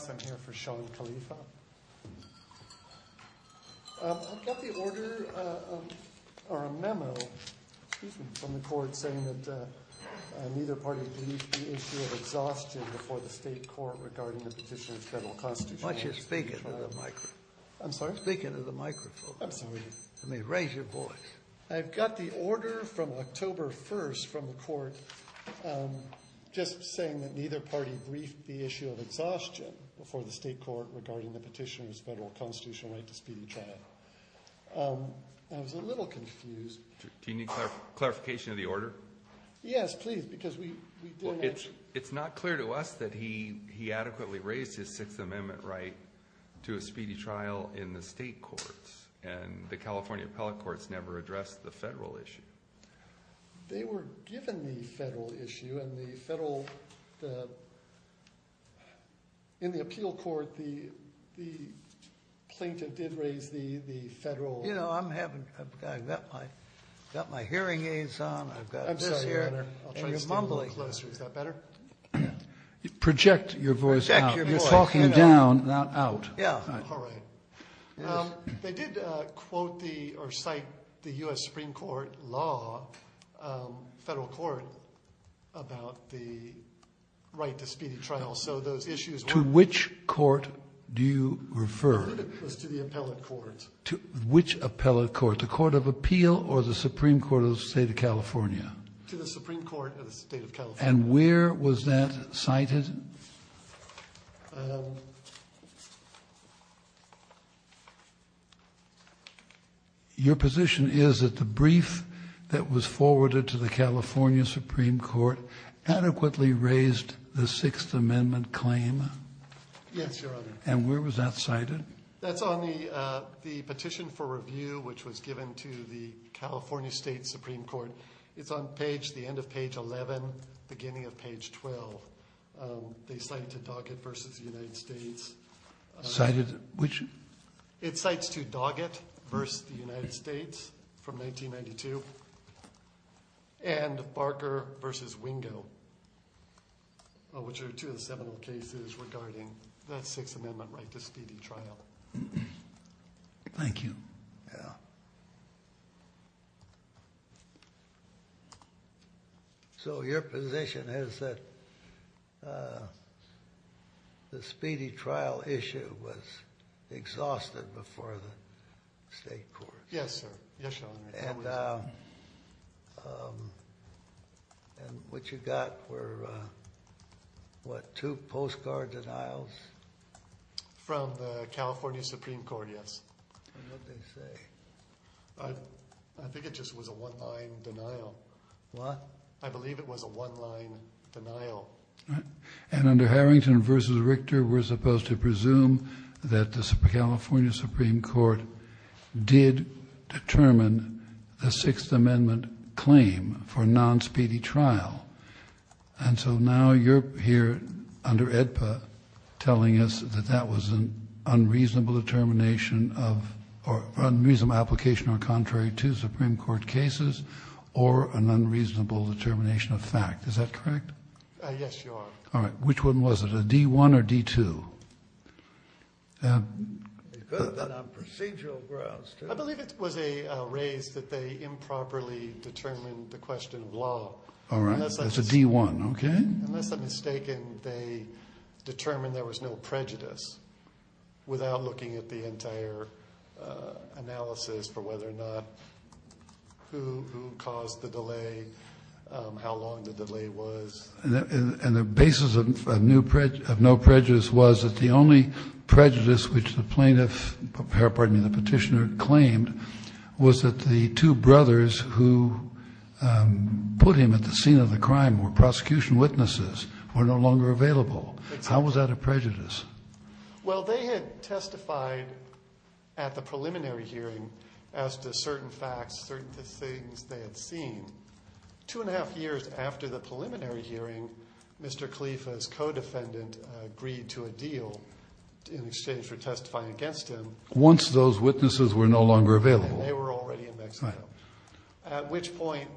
I'm here for Shawn Khalifa. I've got the order or a memo from the court saying that neither party believes the issue of exhaustion before the state court regarding the petitioner's federal constitution. Why don't you speak into the microphone. I'm sorry? Speak into the microphone. I'm sorry. I mean raise your voice. I've got the order from October 1st from the court just saying that neither party briefed the issue of exhaustion before the state court regarding the petitioner's federal constitutional right to speedy trial. I was a little confused. Do you need clarification of the order? Yes please because we... It's not clear to us that he adequately raised his Sixth Amendment right to a speedy trial in the state courts and the California appellate courts never addressed the federal issue. They were given the federal issue and the federal... In the appeal court the plaintiff did raise the federal... You know I'm having... I've got my hearing aids on. I've got this here. I'm sorry your honor. I'll try to stay a little closer. Is that better? Project your voice out. You're talking down not out. Yeah. All right. They did quote the or cite the US Supreme Court law federal court about the right to speedy trial. So those issues... To which court do you refer? It was to the appellate court. To which appellate court? The court of appeal or the Supreme Court of the state of California? To the Supreme Court of the state of California. And where was that cited? Your position is that the brief that was forwarded to the California Supreme Court adequately raised the Sixth Amendment claim? Yes your honor. And where was that cited? That's on the the petition for review which was given to the California State Supreme Court. It's on page... The end of page 11 beginning of page 12. They cited Doggett versus the United States. Cited which? It cites to Doggett versus the United States from 1992 and Barker versus Wingo which are two of the seminal cases regarding the Sixth Amendment right to speedy trial. Thank you. Yeah. So your position is that the speedy trial issue was exhausted before the state court? Yes sir. Yes your honor. And what you got were what two postcard denials? From the California Supreme Court yes. And what did they say? I think it just was a one line denial. What? I believe it was a one line denial. I believe it was a raise that they improperly determined the question of law. All right. That's a D1. Okay. Unless I'm mistaken they determined there was no prejudice without looking at the entire analysis for whether or not who caused the delay, how long the delay was. And the basis of no prejudice was that the only prejudice which the plaintiff, pardon me, the petitioner claimed was that the two brothers who put him at the scene of the crime were prosecution witnesses, were no longer available. How was that a prejudice? Well they had testified at the preliminary hearing as to certain facts, certain things they had seen. Two and a half years after the preliminary hearing Mr. Khalifa's co-defendant agreed to a deal in exchange for testifying against him. Once those witnesses were no longer available. They were already in Mexico. At which point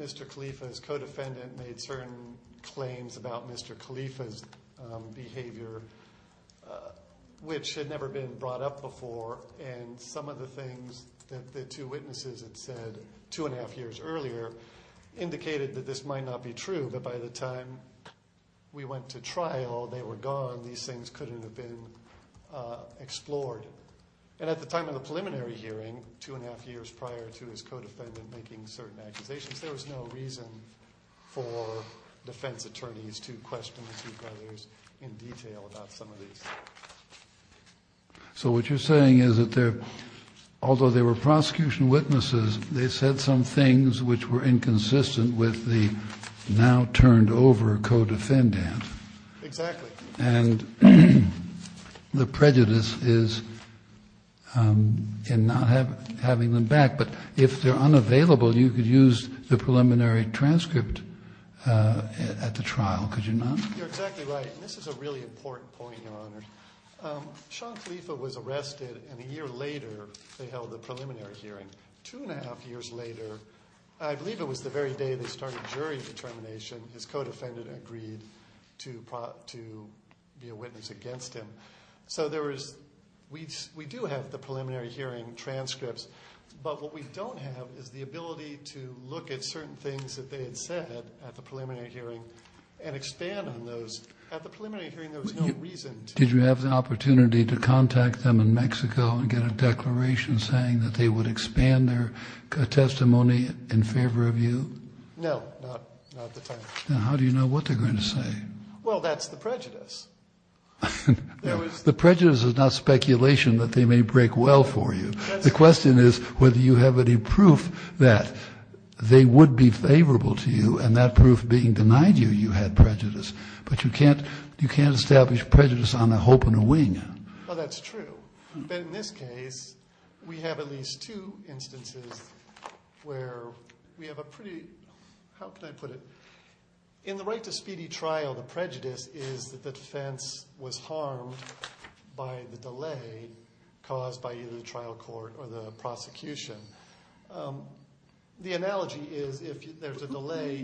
Mr. Khalifa's co-defendant made certain claims about Mr. Khalifa's behavior. Which had never been brought up before and some of the things that the two witnesses had said two and a half years earlier indicated that this might not be true. But by the time we went to trial they were gone. These things couldn't have been explored. And at the time of the preliminary hearing, two and a half years prior to his co-defendant making certain accusations, there was no reason for defense attorneys to question the two brothers in detail about some of these things. You're exactly right. This is a really important point, Your Honor. Sean Khalifa was arrested and a year later they held the preliminary hearing. Two and a half years later, I believe it was the very day they started jury determination, his co-defendant agreed to be a witness against him. So there was, we do have the preliminary hearing transcripts, but what we don't have is the ability to look at certain things that they had said at the preliminary hearing and expand on those. At the preliminary hearing there was no reason to. Did you have the opportunity to contact them in Mexico and get a declaration saying that they would expand their testimony in favor of you? No, not at the time. Then how do you know what they're going to say? Well, that's the prejudice. The prejudice is not speculation that they may break well for you. The question is whether you have any proof that they would be favorable to you and that proof being denied you, you had prejudice. But you can't establish prejudice on a hope and a wing. Well, that's true. But in this case, we have at least two instances where we have a pretty, how can I put it, in the right to speedy trial, the prejudice is that the defense was harmed by the delay caused by either the trial court or the prosecution. The analogy is if there's a delay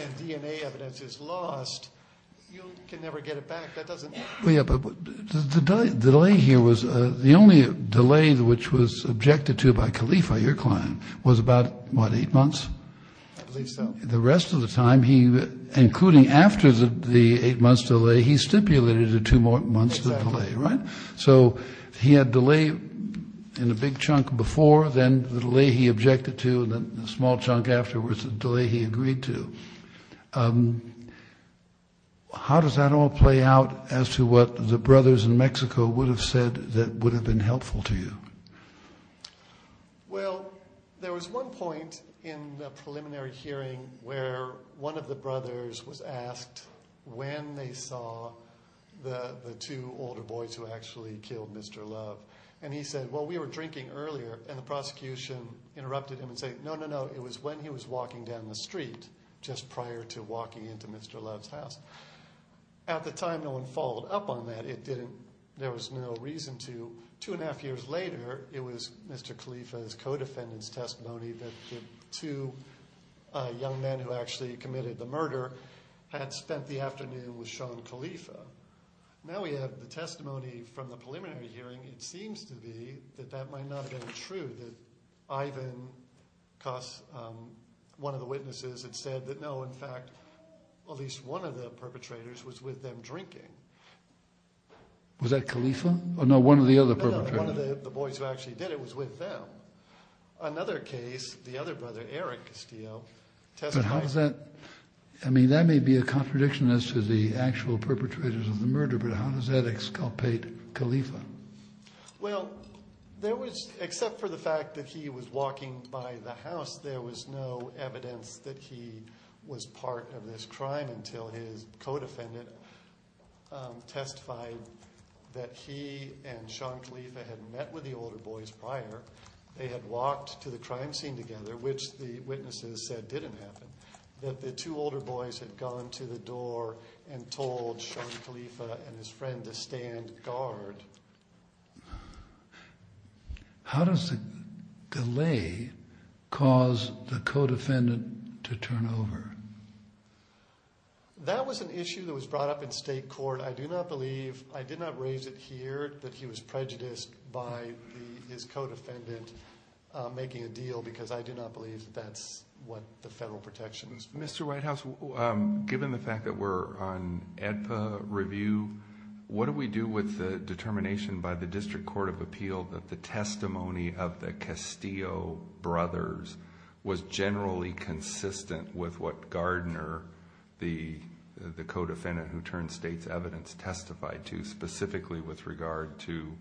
and DNA evidence is lost, you can never get it back. That doesn't work. Yeah, but the delay here was, the only delay which was objected to by Khalifa, your client, was about what, eight months? I believe so. The rest of the time, including after the eight months delay, he stipulated a two-month delay, right? Exactly. So he had delay in a big chunk before, then the delay he objected to, then a small chunk afterwards, the delay he agreed to. How does that all play out as to what the brothers in Mexico would have said that would have been helpful to you? Well, there was one point in the preliminary hearing where one of the brothers was asked when they saw the two older boys who actually killed Mr. Love. And he said, well, we were drinking earlier, and the prosecution interrupted him and said, no, no, no, it was when he was walking down the street just prior to walking into Mr. Love's house. At the time, no one followed up on that. It didn't, there was no reason to. Two and a half years later, it was Mr. Khalifa's co-defendant's testimony that the two young men who actually committed the murder had spent the afternoon with Sean Khalifa. Now we have the testimony from the preliminary hearing. It seems to be that that might not have been true, that Ivan Cos, one of the witnesses, had said that, no, in fact, at least one of the perpetrators was with them drinking. Was that Khalifa? No, one of the other perpetrators. No, one of the boys who actually did it was with them. Another case, the other brother, Eric Castillo, testified. But how does that, I mean, that may be a contradiction as to the actual perpetrators of the murder, but how does that exculpate Khalifa? Well, there was, except for the fact that he was walking by the house, there was no evidence that he was part of this crime until his co-defendant testified that he and Sean Khalifa had met with the older boys prior. They had walked to the crime scene together, which the witnesses said didn't happen, that the two older boys had gone to the door and told Sean Khalifa and his friend to stand guard. How does the delay cause the co-defendant to turn over? That was an issue that was brought up in state court. I do not believe, I did not raise it here, that he was prejudiced by his co-defendant making a deal because I do not believe that's what the federal protections. Mr. Whitehouse, given the fact that we're on AEDPA review, what do we do with the determination by the District Court of Appeal that the testimony of the Castillo brothers was generally consistent with what Gardner, the co-defendant who turned state's evidence, testified to, specifically with regard to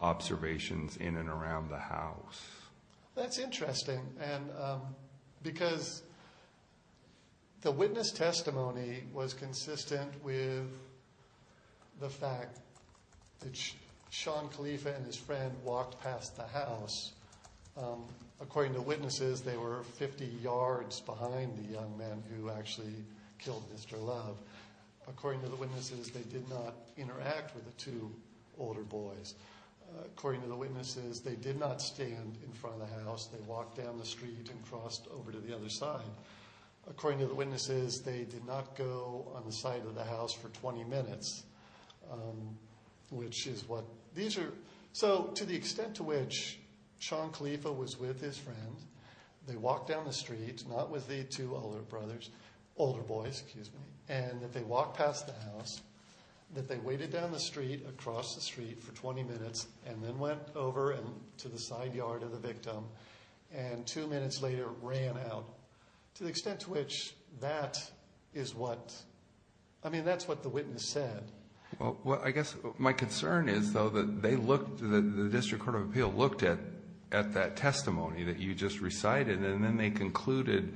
observations in and around the house? That's interesting, because the witness testimony was consistent with the fact that Sean Khalifa and his friend walked past the house. According to witnesses, they were 50 yards behind the young man who actually killed Mr. Love. According to the witnesses, they did not interact with the two older boys. According to the witnesses, they did not stand in front of the house, they walked down the street and crossed over to the other side. According to the witnesses, they did not go on the side of the house for 20 minutes. To the extent to which Sean Khalifa was with his friend, they walked down the street, not with the two older boys, and that they walked past the house, that they waited down the street, across the street for 20 minutes, and then went over to the side yard of the victim, and two minutes later ran out. To the extent to which that is what, I mean, that's what the witness said. Well, I guess my concern is, though, that they looked, the District Court of Appeal looked at that testimony that you just recited, and then they concluded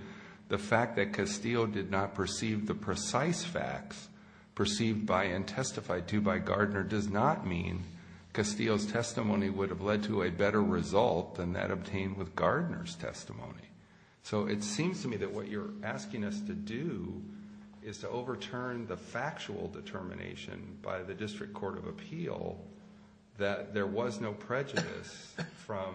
the fact that Castillo did not perceive the precise facts perceived by and testified to by Gardner does not mean Castillo's testimony would have led to a better result than that obtained with Gardner's testimony. So it seems to me that what you're asking us to do is to overturn the factual determination by the District Court of Appeal that there was no prejudice from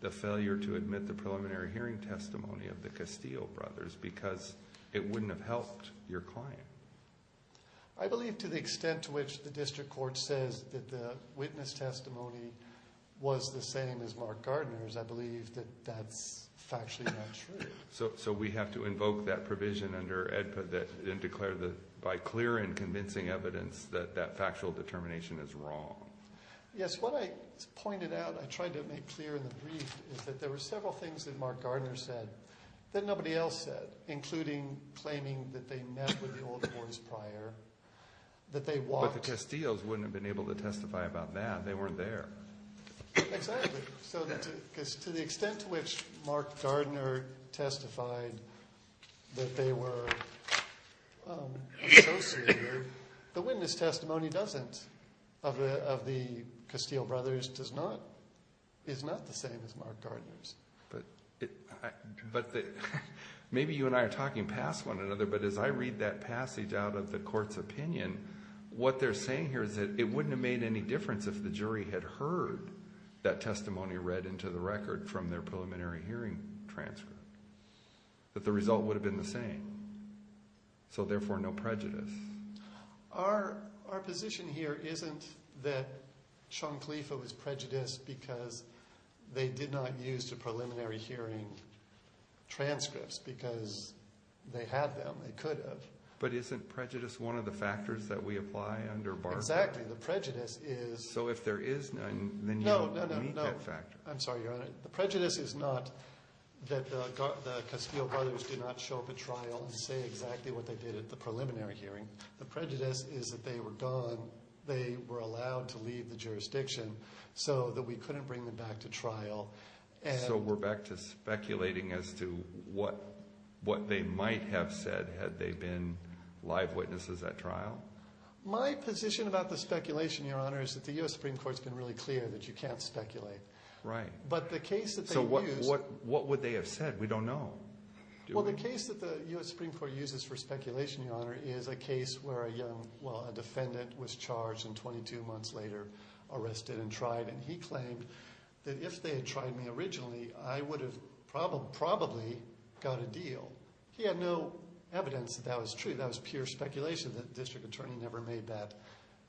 the failure to admit the preliminary hearing testimony of the Castillo brothers because it wouldn't have helped your client. I believe to the extent to which the District Court says that the witness testimony was the same as Mark Gardner's, I believe that that's factually not true. So we have to invoke that provision under AEDPA and declare that by clear and convincing evidence that that factual determination is wrong. Yes, what I pointed out, I tried to make clear in the brief, is that there were several things that Mark Gardner said that nobody else said, including claiming that they met with the old boys prior, that they walked. But the Castillos wouldn't have been able to testify about that. They weren't there. Exactly. So to the extent to which Mark Gardner testified that they were associated, the witness testimony doesn't, of the Castillo brothers, is not the same as Mark Gardner's. Maybe you and I are talking past one another, but as I read that passage out of the court's opinion, what they're saying here is that it wouldn't have made any difference if the jury had heard that testimony read into the record from their preliminary hearing transcript, that the result would have been the same. So therefore, no prejudice. Our position here isn't that Chanclifa was prejudiced because they did not use the preliminary hearing transcripts because they had them. They could have. But isn't prejudice one of the factors that we apply under Barber? Exactly. The prejudice is… So if there is none, then you don't need that factor. No, no, no. I'm sorry, Your Honor. The prejudice is not that the Castillo brothers did not show up at trial and say exactly what they did at the preliminary hearing. The prejudice is that they were gone. They were allowed to leave the jurisdiction so that we couldn't bring them back to trial. So we're back to speculating as to what they might have said had they been live witnesses at trial? My position about the speculation, Your Honor, is that the U.S. Supreme Court's been really clear that you can't speculate. Right. But the case that they used… So what would they have said? We don't know. Well, the case that the U.S. Supreme Court uses for speculation, Your Honor, is a case where a young – well, a defendant was charged and 22 months later arrested and tried. And he claimed that if they had tried me originally, I would have probably got a deal. He had no evidence that that was true. That was pure speculation. The district attorney never made that –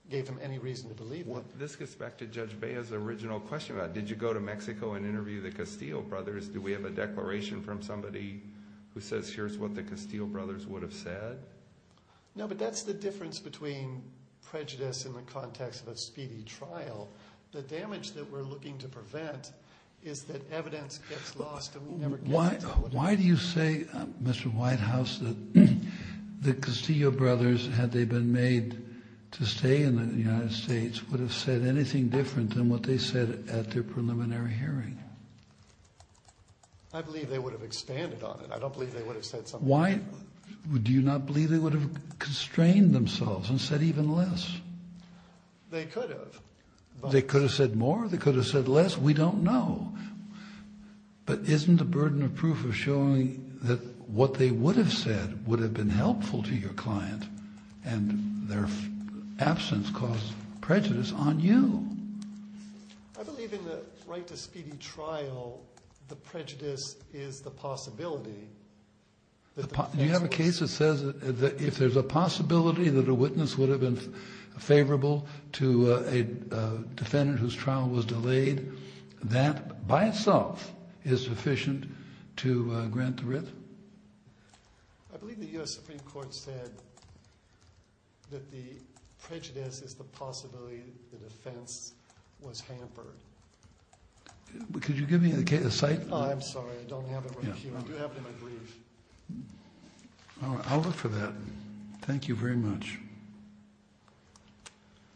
gave him any reason to believe that. This gets back to Judge Bea's original question about did you go to Mexico and interview the Castillo brothers? Do we have a declaration from somebody who says here's what the Castillo brothers would have said? No, but that's the difference between prejudice in the context of a speedy trial. The damage that we're looking to prevent is that evidence gets lost and we never get it. Why do you say, Mr. Whitehouse, that the Castillo brothers, had they been made to stay in the United States, would have said anything different than what they said at their preliminary hearing? I believe they would have expanded on it. I don't believe they would have said something different. Why do you not believe they would have constrained themselves and said even less? They could have. They could have said more? They could have said less? We don't know. But isn't the burden of proof of showing that what they would have said would have been helpful to your client and their absence causes prejudice on you? I believe in the right to speedy trial, the prejudice is the possibility. Do you have a case that says if there's a possibility that a witness would have been favorable to a defendant whose trial was delayed, that by itself is sufficient to grant the writ? I believe the U.S. Supreme Court said that the prejudice is the possibility the defense was hampered. Could you give me a cite? I'm sorry. I don't have it with me here. I do have it in my brief. I'll look for that. Thank you very much.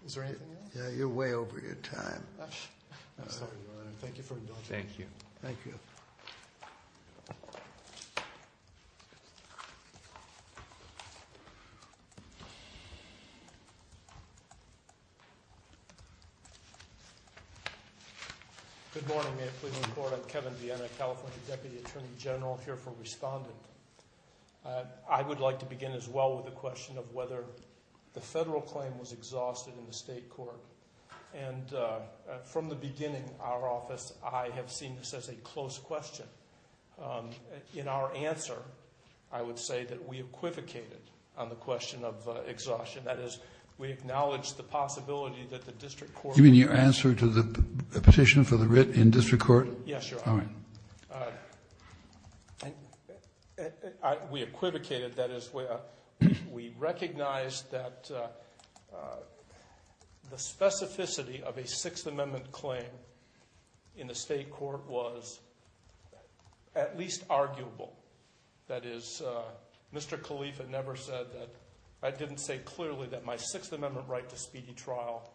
Is there anything else? You're way over your time. I'm sorry, Your Honor. Thank you for indulging me. Thank you. Thank you. Thank you. Good morning. I'm Kevin Vienna, California Deputy Attorney General here for Respondent. I would like to begin as well with the question of whether the federal claim was exhausted in the state court. And from the beginning, our office, I have seen this as a close question. In our answer, I would say that we equivocated on the question of exhaustion. That is, we acknowledge the possibility that the district court You mean your answer to the petition for the writ in district court? Yes, Your Honor. All right. We equivocated. That is, we recognized that the specificity of a Sixth Amendment claim in the state court was at least arguable. That is, Mr. Khalifa never said that. I didn't say clearly that my Sixth Amendment right to speedy trial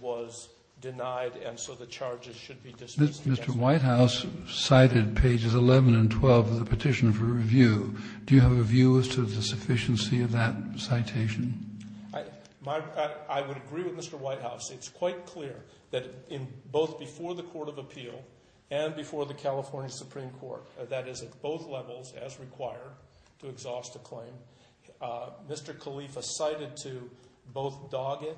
was denied, and so the charges should be dismissed. Mr. Whitehouse cited pages 11 and 12 of the petition for review. Do you have a view as to the sufficiency of that citation? I would agree with Mr. Whitehouse. It's quite clear that both before the court of appeal and before the California Supreme Court, that is, at both levels, as required to exhaust a claim, Mr. Khalifa cited to both Doggett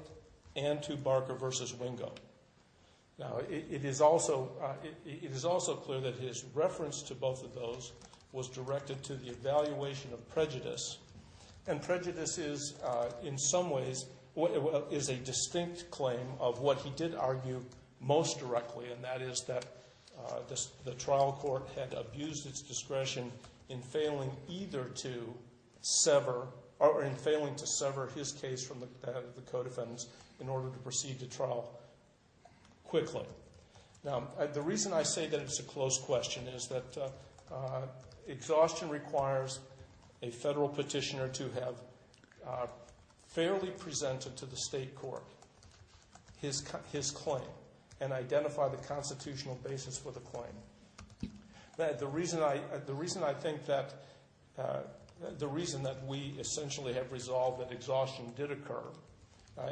and to Barker v. Wingo. Now, it is also clear that his reference to both of those was directed to the evaluation of prejudice. And prejudice is, in some ways, is a distinct claim of what he did argue most directly, and that is that the trial court had abused its discretion in failing either to sever, or in failing to sever his case from that of the co-defendants in order to proceed to trial quickly. Now, the reason I say that it's a closed question is that exhaustion requires a federal petitioner to have fairly presented to the state court his claim and identify the constitutional basis for the claim. The reason I think that we essentially have resolved that exhaustion did occur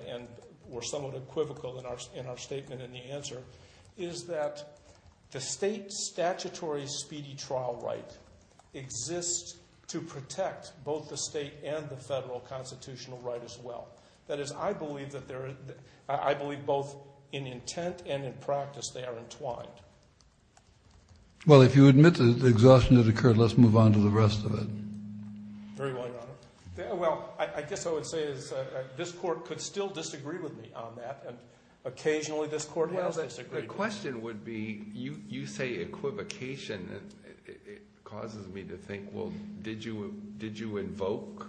and were somewhat equivocal in our statement in the answer is that the state statutory speedy trial right exists to protect both the state and the federal constitutional right as well. That is, I believe both in intent and in practice they are entwined. Well, if you admit that exhaustion did occur, let's move on to the rest of it. Very well, Your Honor. Well, I guess what I would say is this Court could still disagree with me on that, and occasionally this Court has disagreed with me. The question would be, you say equivocation. It causes me to think, well, did you invoke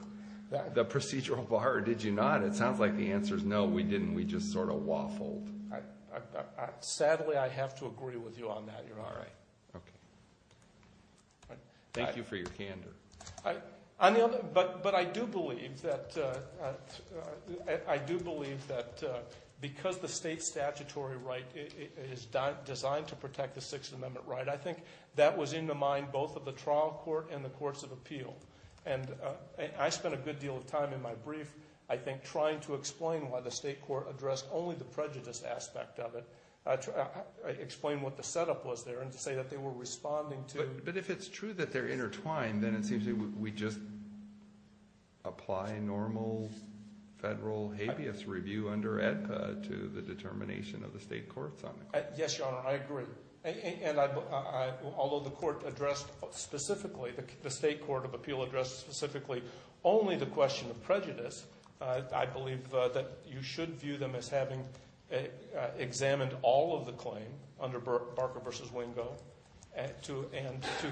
the procedural bar or did you not? It sounds like the answer is no, we didn't. We just sort of waffled. Sadly, I have to agree with you on that, Your Honor. All right. Okay. Thank you for your candor. But I do believe that because the state statutory right is designed to protect the Sixth Amendment right, I think that was in the mind both of the trial court and the courts of appeal. And I spent a good deal of time in my brief, I think, trying to explain why the state court addressed only the prejudice aspect of it, explain what the setup was there, and to say that they were responding to— It seems to me we just apply normal federal habeas review under AEDPA to the determination of the state courts on it. Yes, Your Honor, I agree. And although the court addressed specifically, the state court of appeal addressed specifically only the question of prejudice, I believe that you should view them as having examined all of the claim under Barker v. Wingo and to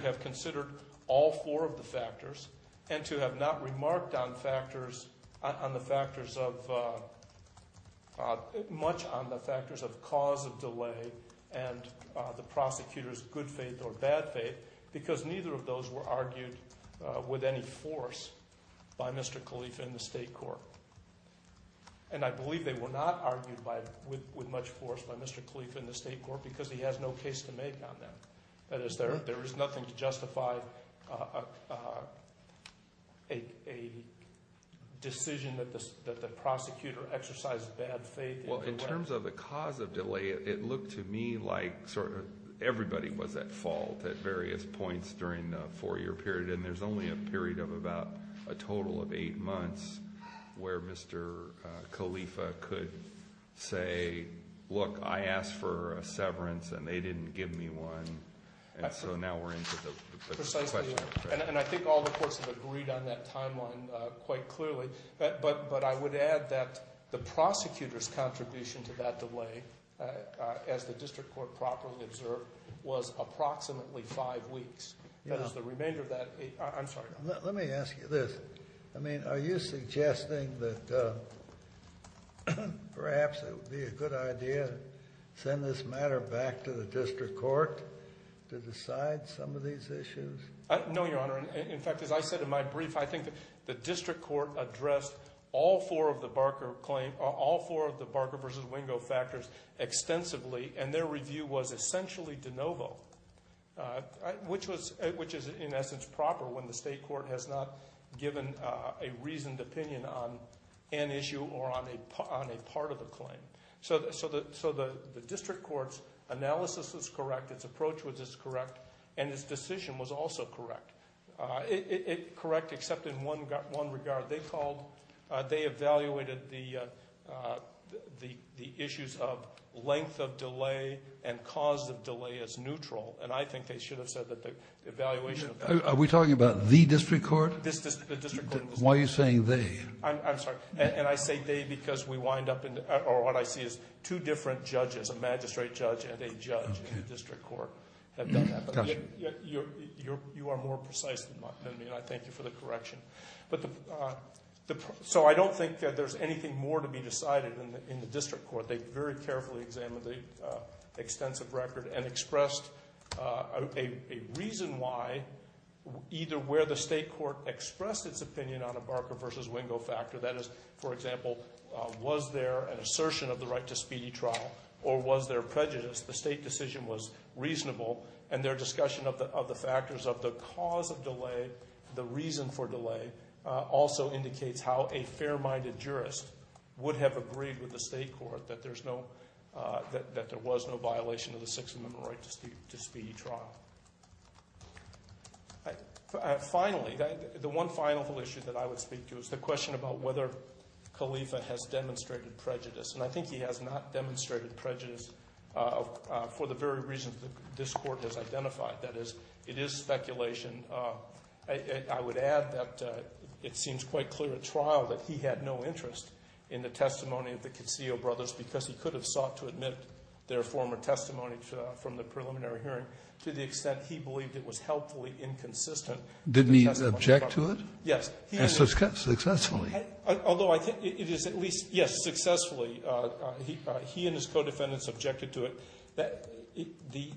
have considered all four of the factors and to have not remarked on the factors of—much on the factors of cause of delay and the prosecutor's good faith or bad faith because neither of those were argued with any force by Mr. Khalifa in the state court. And I believe they were not argued with much force by Mr. Khalifa in the state court because he has no case to make on them. That is, there is nothing to justify a decision that the prosecutor exercised bad faith in. Well, in terms of the cause of delay, it looked to me like sort of everybody was at fault at various points during the four-year period, and there's only a period of about a total of eight months where Mr. Khalifa could say, look, I asked for a severance and they didn't give me one, and so now we're into the question of prejudice. And I think all the courts have agreed on that timeline quite clearly. But I would add that the prosecutor's contribution to that delay, as the district court properly observed, was approximately five weeks. That is, the remainder of that—I'm sorry. Let me ask you this. I mean, are you suggesting that perhaps it would be a good idea to send this matter back to the district court to decide some of these issues? No, Your Honor. In fact, as I said in my brief, I think the district court addressed all four of the Barker versus Wingo factors extensively, and their review was essentially de novo, which is in essence proper when the state court has not given a reasoned opinion on an issue or on a part of the claim. So the district court's analysis was correct, its approach was correct, and its decision was also correct. It's correct except in one regard. They evaluated the issues of length of delay and cause of delay as neutral, and I think they should have said that the evaluation— Are we talking about the district court? The district court. Why are you saying they? I'm sorry. And I say they because we wind up in—or what I see is two different judges, a magistrate judge and a judge in the district court have done that. You are more precise than me, and I thank you for the correction. So I don't think that there's anything more to be decided in the district court. They very carefully examined the extensive record and expressed a reason why either where the state court expressed its opinion on a Barker versus Wingo factor, that is, for example, was there an assertion of the right to speedy trial or was there prejudice? The state decision was reasonable, and their discussion of the factors of the cause of delay, the reason for delay, also indicates how a fair-minded jurist would have agreed with the state court that there was no violation of the Sixth Amendment right to speedy trial. Finally, the one final issue that I would speak to is the question about whether Khalifa has demonstrated prejudice, and I think he has not demonstrated prejudice for the very reasons that this Court has identified, that is, it is speculation. I would add that it seems quite clear at trial that he had no interest in the testimony of the Casillo brothers because he could have sought to admit their former testimony from the preliminary hearing to the extent he believed it was helpfully inconsistent. Did he object to it? Yes. Successfully. Although I think it is at least, yes, successfully, he and his co-defendants objected to it. The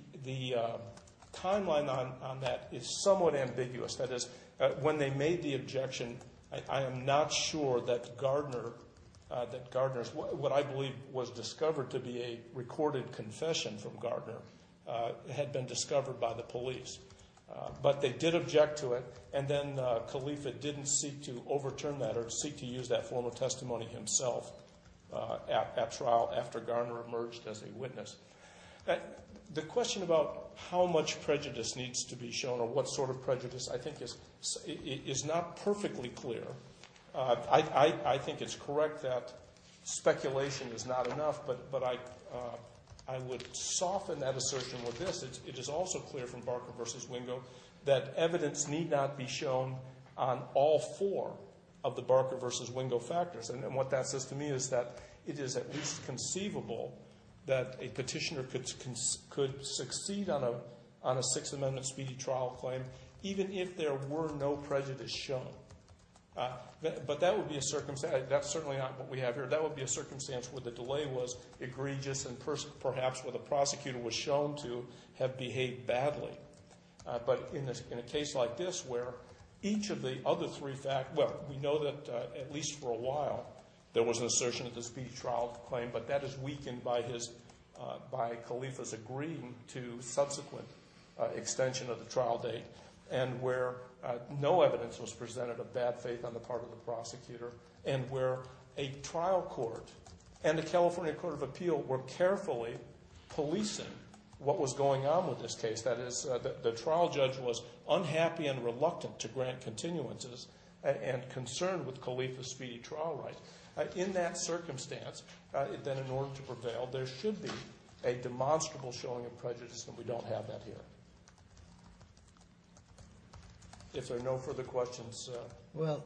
timeline on that is somewhat ambiguous. That is, when they made the objection, I am not sure that Gardner, that Gardner's, what I believe was discovered to be a recorded confession from Gardner, had been discovered by the police. But they did object to it, and then Khalifa didn't seek to overturn that or seek to use that former testimony himself at trial after Gardner emerged as a witness. The question about how much prejudice needs to be shown or what sort of prejudice I think is not perfectly clear. I think it's correct that speculation is not enough, but I would soften that assertion with this. It is also clear from Barker v. Wingo that evidence need not be shown on all four of the Barker v. Wingo factors. And what that says to me is that it is at least conceivable that a petitioner could succeed on a Sixth Amendment speedy trial claim even if there were no prejudice shown. But that would be a circumstance, that's certainly not what we have here. That would be a circumstance where the delay was egregious and perhaps where the prosecutor was shown to have behaved badly. But in a case like this where each of the other three facts, well, we know that at least for a while, there was an assertion of the speedy trial claim, but that is weakened by Khalifa's agreeing to subsequent extension of the trial date. And where no evidence was presented of bad faith on the part of the prosecutor. And where a trial court and the California Court of Appeal were carefully policing what was going on with this case. That is, the trial judge was unhappy and reluctant to grant continuances and concerned with Khalifa's speedy trial rights. In that circumstance, then in order to prevail, there should be a demonstrable showing of prejudice, and we don't have that here. If there are no further questions. Well,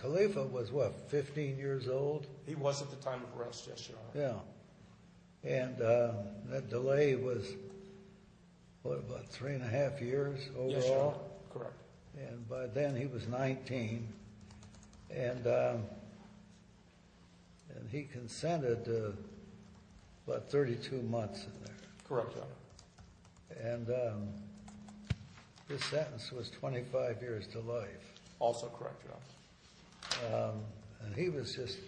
Khalifa was, what, 15 years old? He was at the time of arrest, yes, Your Honor. And that delay was, what, about three and a half years overall? Yes, Your Honor. Correct. And by then he was 19, and he consented to about 32 months in there. Correct, Your Honor. And this sentence was 25 years to life. Also correct, Your Honor. And he was just,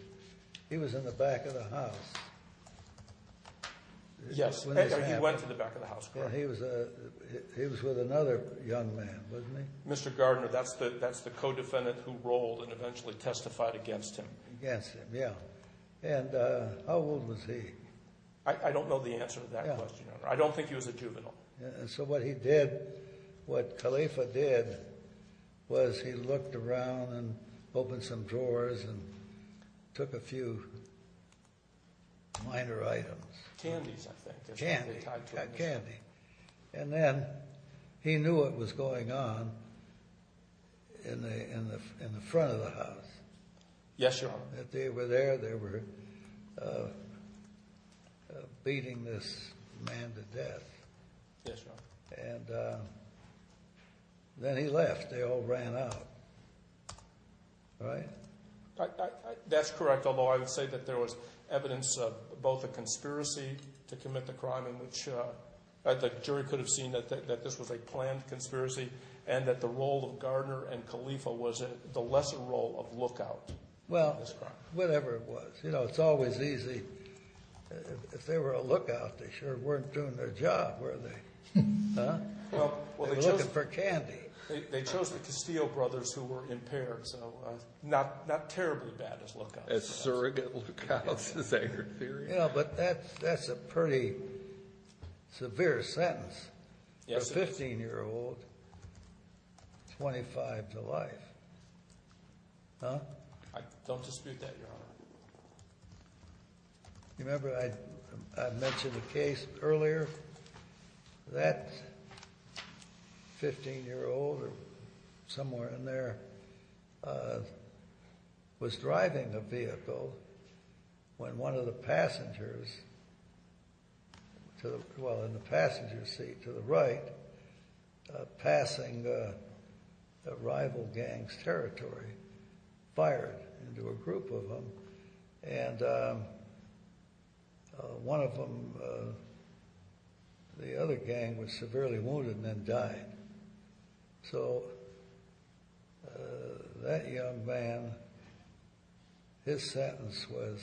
he was in the back of the house. Yes, he went to the back of the house. He was with another young man, wasn't he? Mr. Gardner, that's the co-defendant who rolled and eventually testified against him. Against him, yeah. And how old was he? I don't know the answer to that question, Your Honor. I don't think he was a juvenile. And so what he did, what Khalifa did, was he looked around and opened some drawers and took a few minor items. Candies, I think. Candy, yeah, candy. And then he knew what was going on in the front of the house. Yes, Your Honor. If they were there, they were beating this man to death. Yes, Your Honor. And then he left. They all ran out. Right? That's correct, although I would say that there was evidence of both a conspiracy to commit the crime, which the jury could have seen that this was a planned conspiracy, and that the role of Gardner and Khalifa was the lesser role of lookout. Well, whatever it was. You know, it's always easy. If they were a lookout, they sure weren't doing their job, were they? They were looking for candy. They chose the Castillo brothers who were impaired, so not terribly bad as lookouts. As surrogate lookouts, is that your theory? Yeah, but that's a pretty severe sentence for a 15-year-old, 25 to life. Huh? Don't dispute that, Your Honor. You remember I mentioned a case earlier? That 15-year-old, somewhere in there, was driving a vehicle when one of the passengers, well, in the passenger seat to the right, passing a rival gang's territory, fired into a group of them, and one of them, the other gang, was severely wounded and then died. So, that young man, his sentence was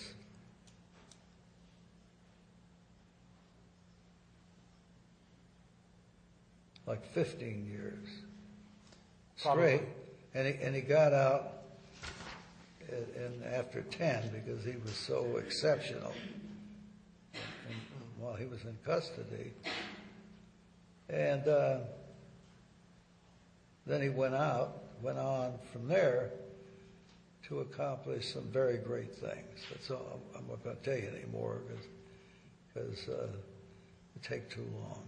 like 15 years straight, and he got out after 10 because he was so exceptional while he was in custody. And then he went out, went on from there to accomplish some very great things. I'm not going to tell you any more because it would take too long,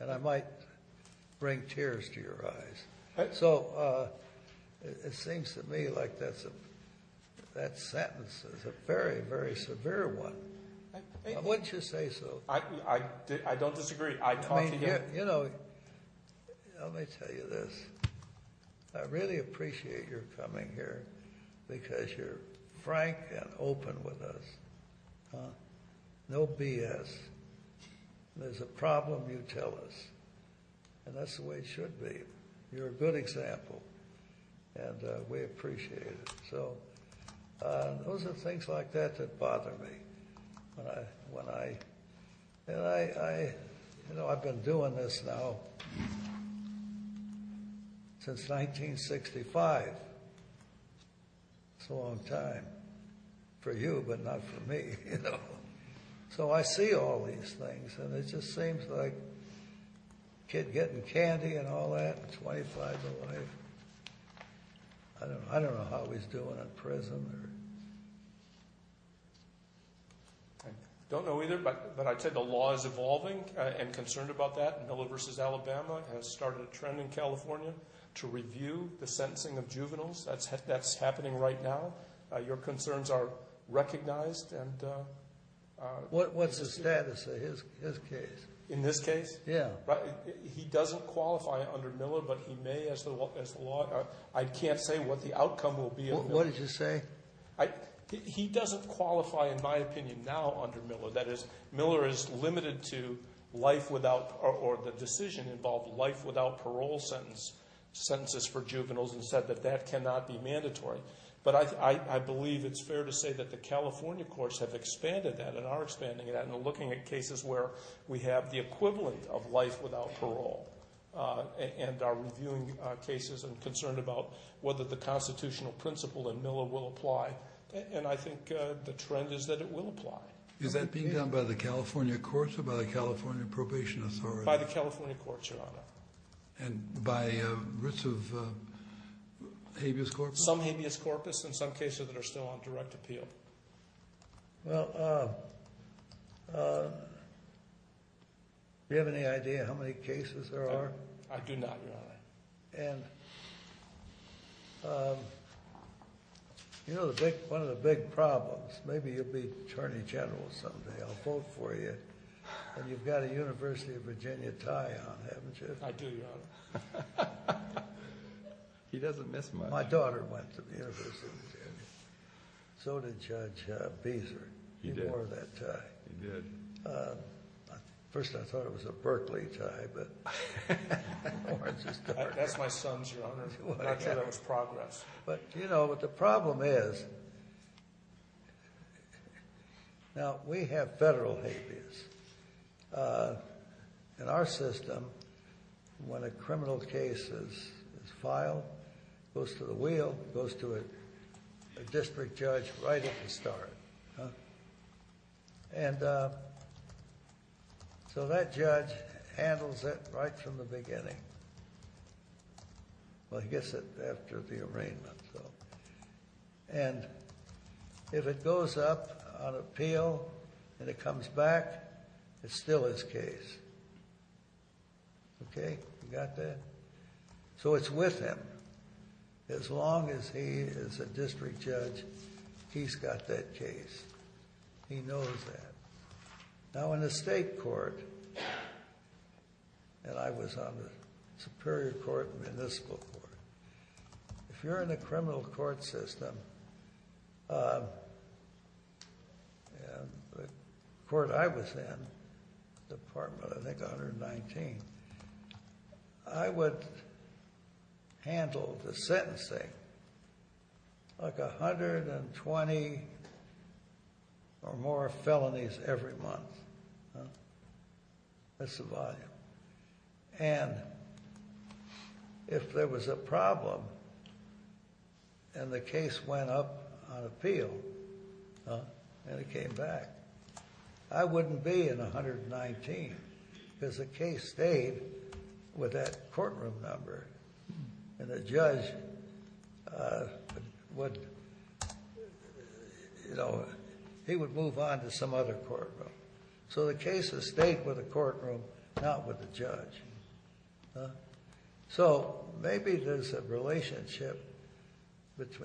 and I might bring tears to your eyes. So, it seems to me like that sentence is a very, very severe one. Wouldn't you say so? I don't disagree. I talked to him. You know, let me tell you this. I really appreciate your coming here because you're frank and open with us. No BS. There's a problem you tell us, and that's the way it should be. You're a good example, and we appreciate it. Those are things like that that bother me. You know, I've been doing this now since 1965. It's a long time for you, but not for me, you know. So, I see all these things, and it just seems like a kid getting candy and all that at 25 and away. I don't know how he's doing at present. I don't know either, but I'd say the law is evolving and concerned about that. Miller v. Alabama has started a trend in California to review the sentencing of juveniles. That's happening right now. Your concerns are recognized. What's the status of his case? In this case? Yeah. He doesn't qualify under Miller, but he may as the law. I can't say what the outcome will be. What did you say? He doesn't qualify, in my opinion, now under Miller. That is, Miller is limited to life without or the decision involved life without parole sentences for juveniles and said that that cannot be mandatory. But I believe it's fair to say that the California courts have expanded that and are expanding that and are looking at cases where we have the equivalent of life without parole. And are reviewing cases and concerned about whether the constitutional principle in Miller will apply. And I think the trend is that it will apply. Is that being done by the California courts or by the California Probation Authority? By the California courts, Your Honor. And by a risk of habeas corpus? Some habeas corpus and some cases that are still on direct appeal. Well, do you have any idea how many cases there are? I do not, Your Honor. And you know one of the big problems, maybe you'll be Attorney General someday, I'll vote for you, and you've got a University of Virginia tie on, haven't you? I do, Your Honor. He doesn't miss much. My daughter went to the University of Virginia. So did Judge Beeser. He wore that tie. He did. At first I thought it was a Berkeley tie. That's my son's, Your Honor. I thought that was progress. But you know what the problem is, now we have federal habeas. In our system, when a criminal case is filed, it goes to the wheel. It goes to a district judge right at the start. And so that judge handles it right from the beginning. Well, he gets it after the arraignment. And if it goes up on appeal and it comes back, it's still his case. Okay, you got that? So it's with him. As long as he is a district judge, he's got that case. He knows that. Now in the state court, and I was on the Superior Court and Municipal Court, if you're in the criminal court system, the court I was in, Department, I think 119, I would handle the sentencing like 120 or more felonies every month. That's the volume. And if there was a problem and the case went up on appeal and it came back, I wouldn't be in 119 because the case stayed with that courtroom number and the judge would, you know, he would move on to some other courtroom. So the case has stayed with the courtroom, not with the judge. So maybe there's a relationship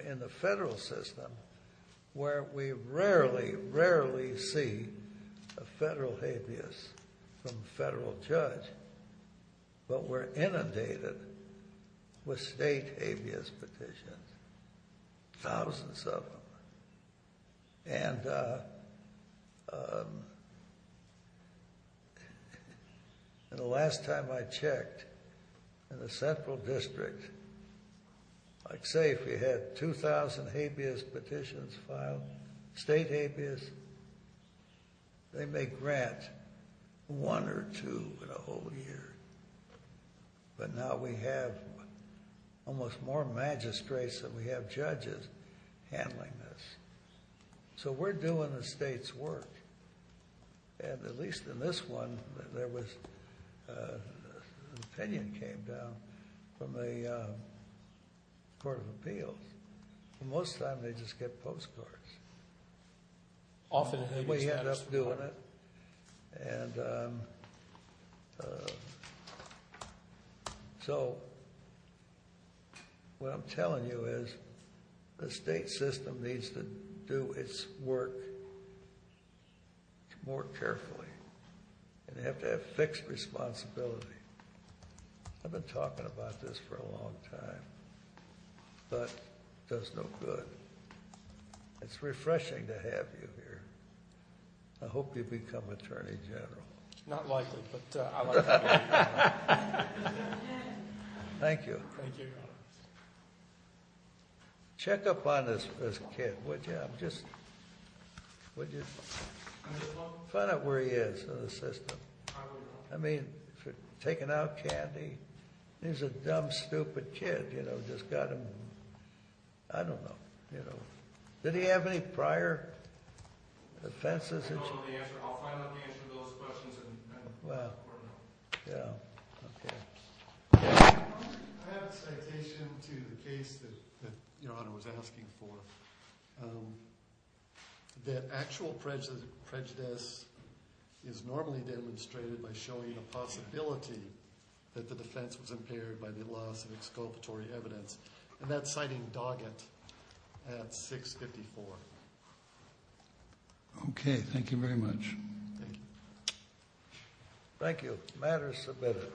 in the federal system where we rarely, rarely see a federal habeas from a federal judge, but we're inundated with state habeas petitions, thousands of them. And the last time I checked in the central district, I'd say if we had 2,000 habeas petitions filed, state habeas, they may grant one or two in a whole year. But now we have almost more magistrates than we have judges handling this. So we're doing the state's work. And at least in this one, there was an opinion came down from the Court of Appeals. Most of the time they just get postcards. And we end up doing it. And so what I'm telling you is the state system needs to do its work more carefully and have to have fixed responsibility. I've been talking about this for a long time, but it does no good. It's refreshing to have you here. I hope you become attorney general. Not likely, but I like it. Thank you. Thank you, Your Honor. Check up on this kid, would you? Find out where he is in the system. I will. I mean, if you're taking out candy, he's a dumb, stupid kid. Just got him. I don't know. Did he have any prior offenses? I'll find out the answer to those questions in court. I have a citation to the case that Your Honor was asking for. The actual prejudice is normally demonstrated by showing a possibility that the defense was impaired by the loss of exculpatory evidence. And that's citing Doggett at 654. Okay, thank you very much. Thank you. Thank you. Matter is submitted.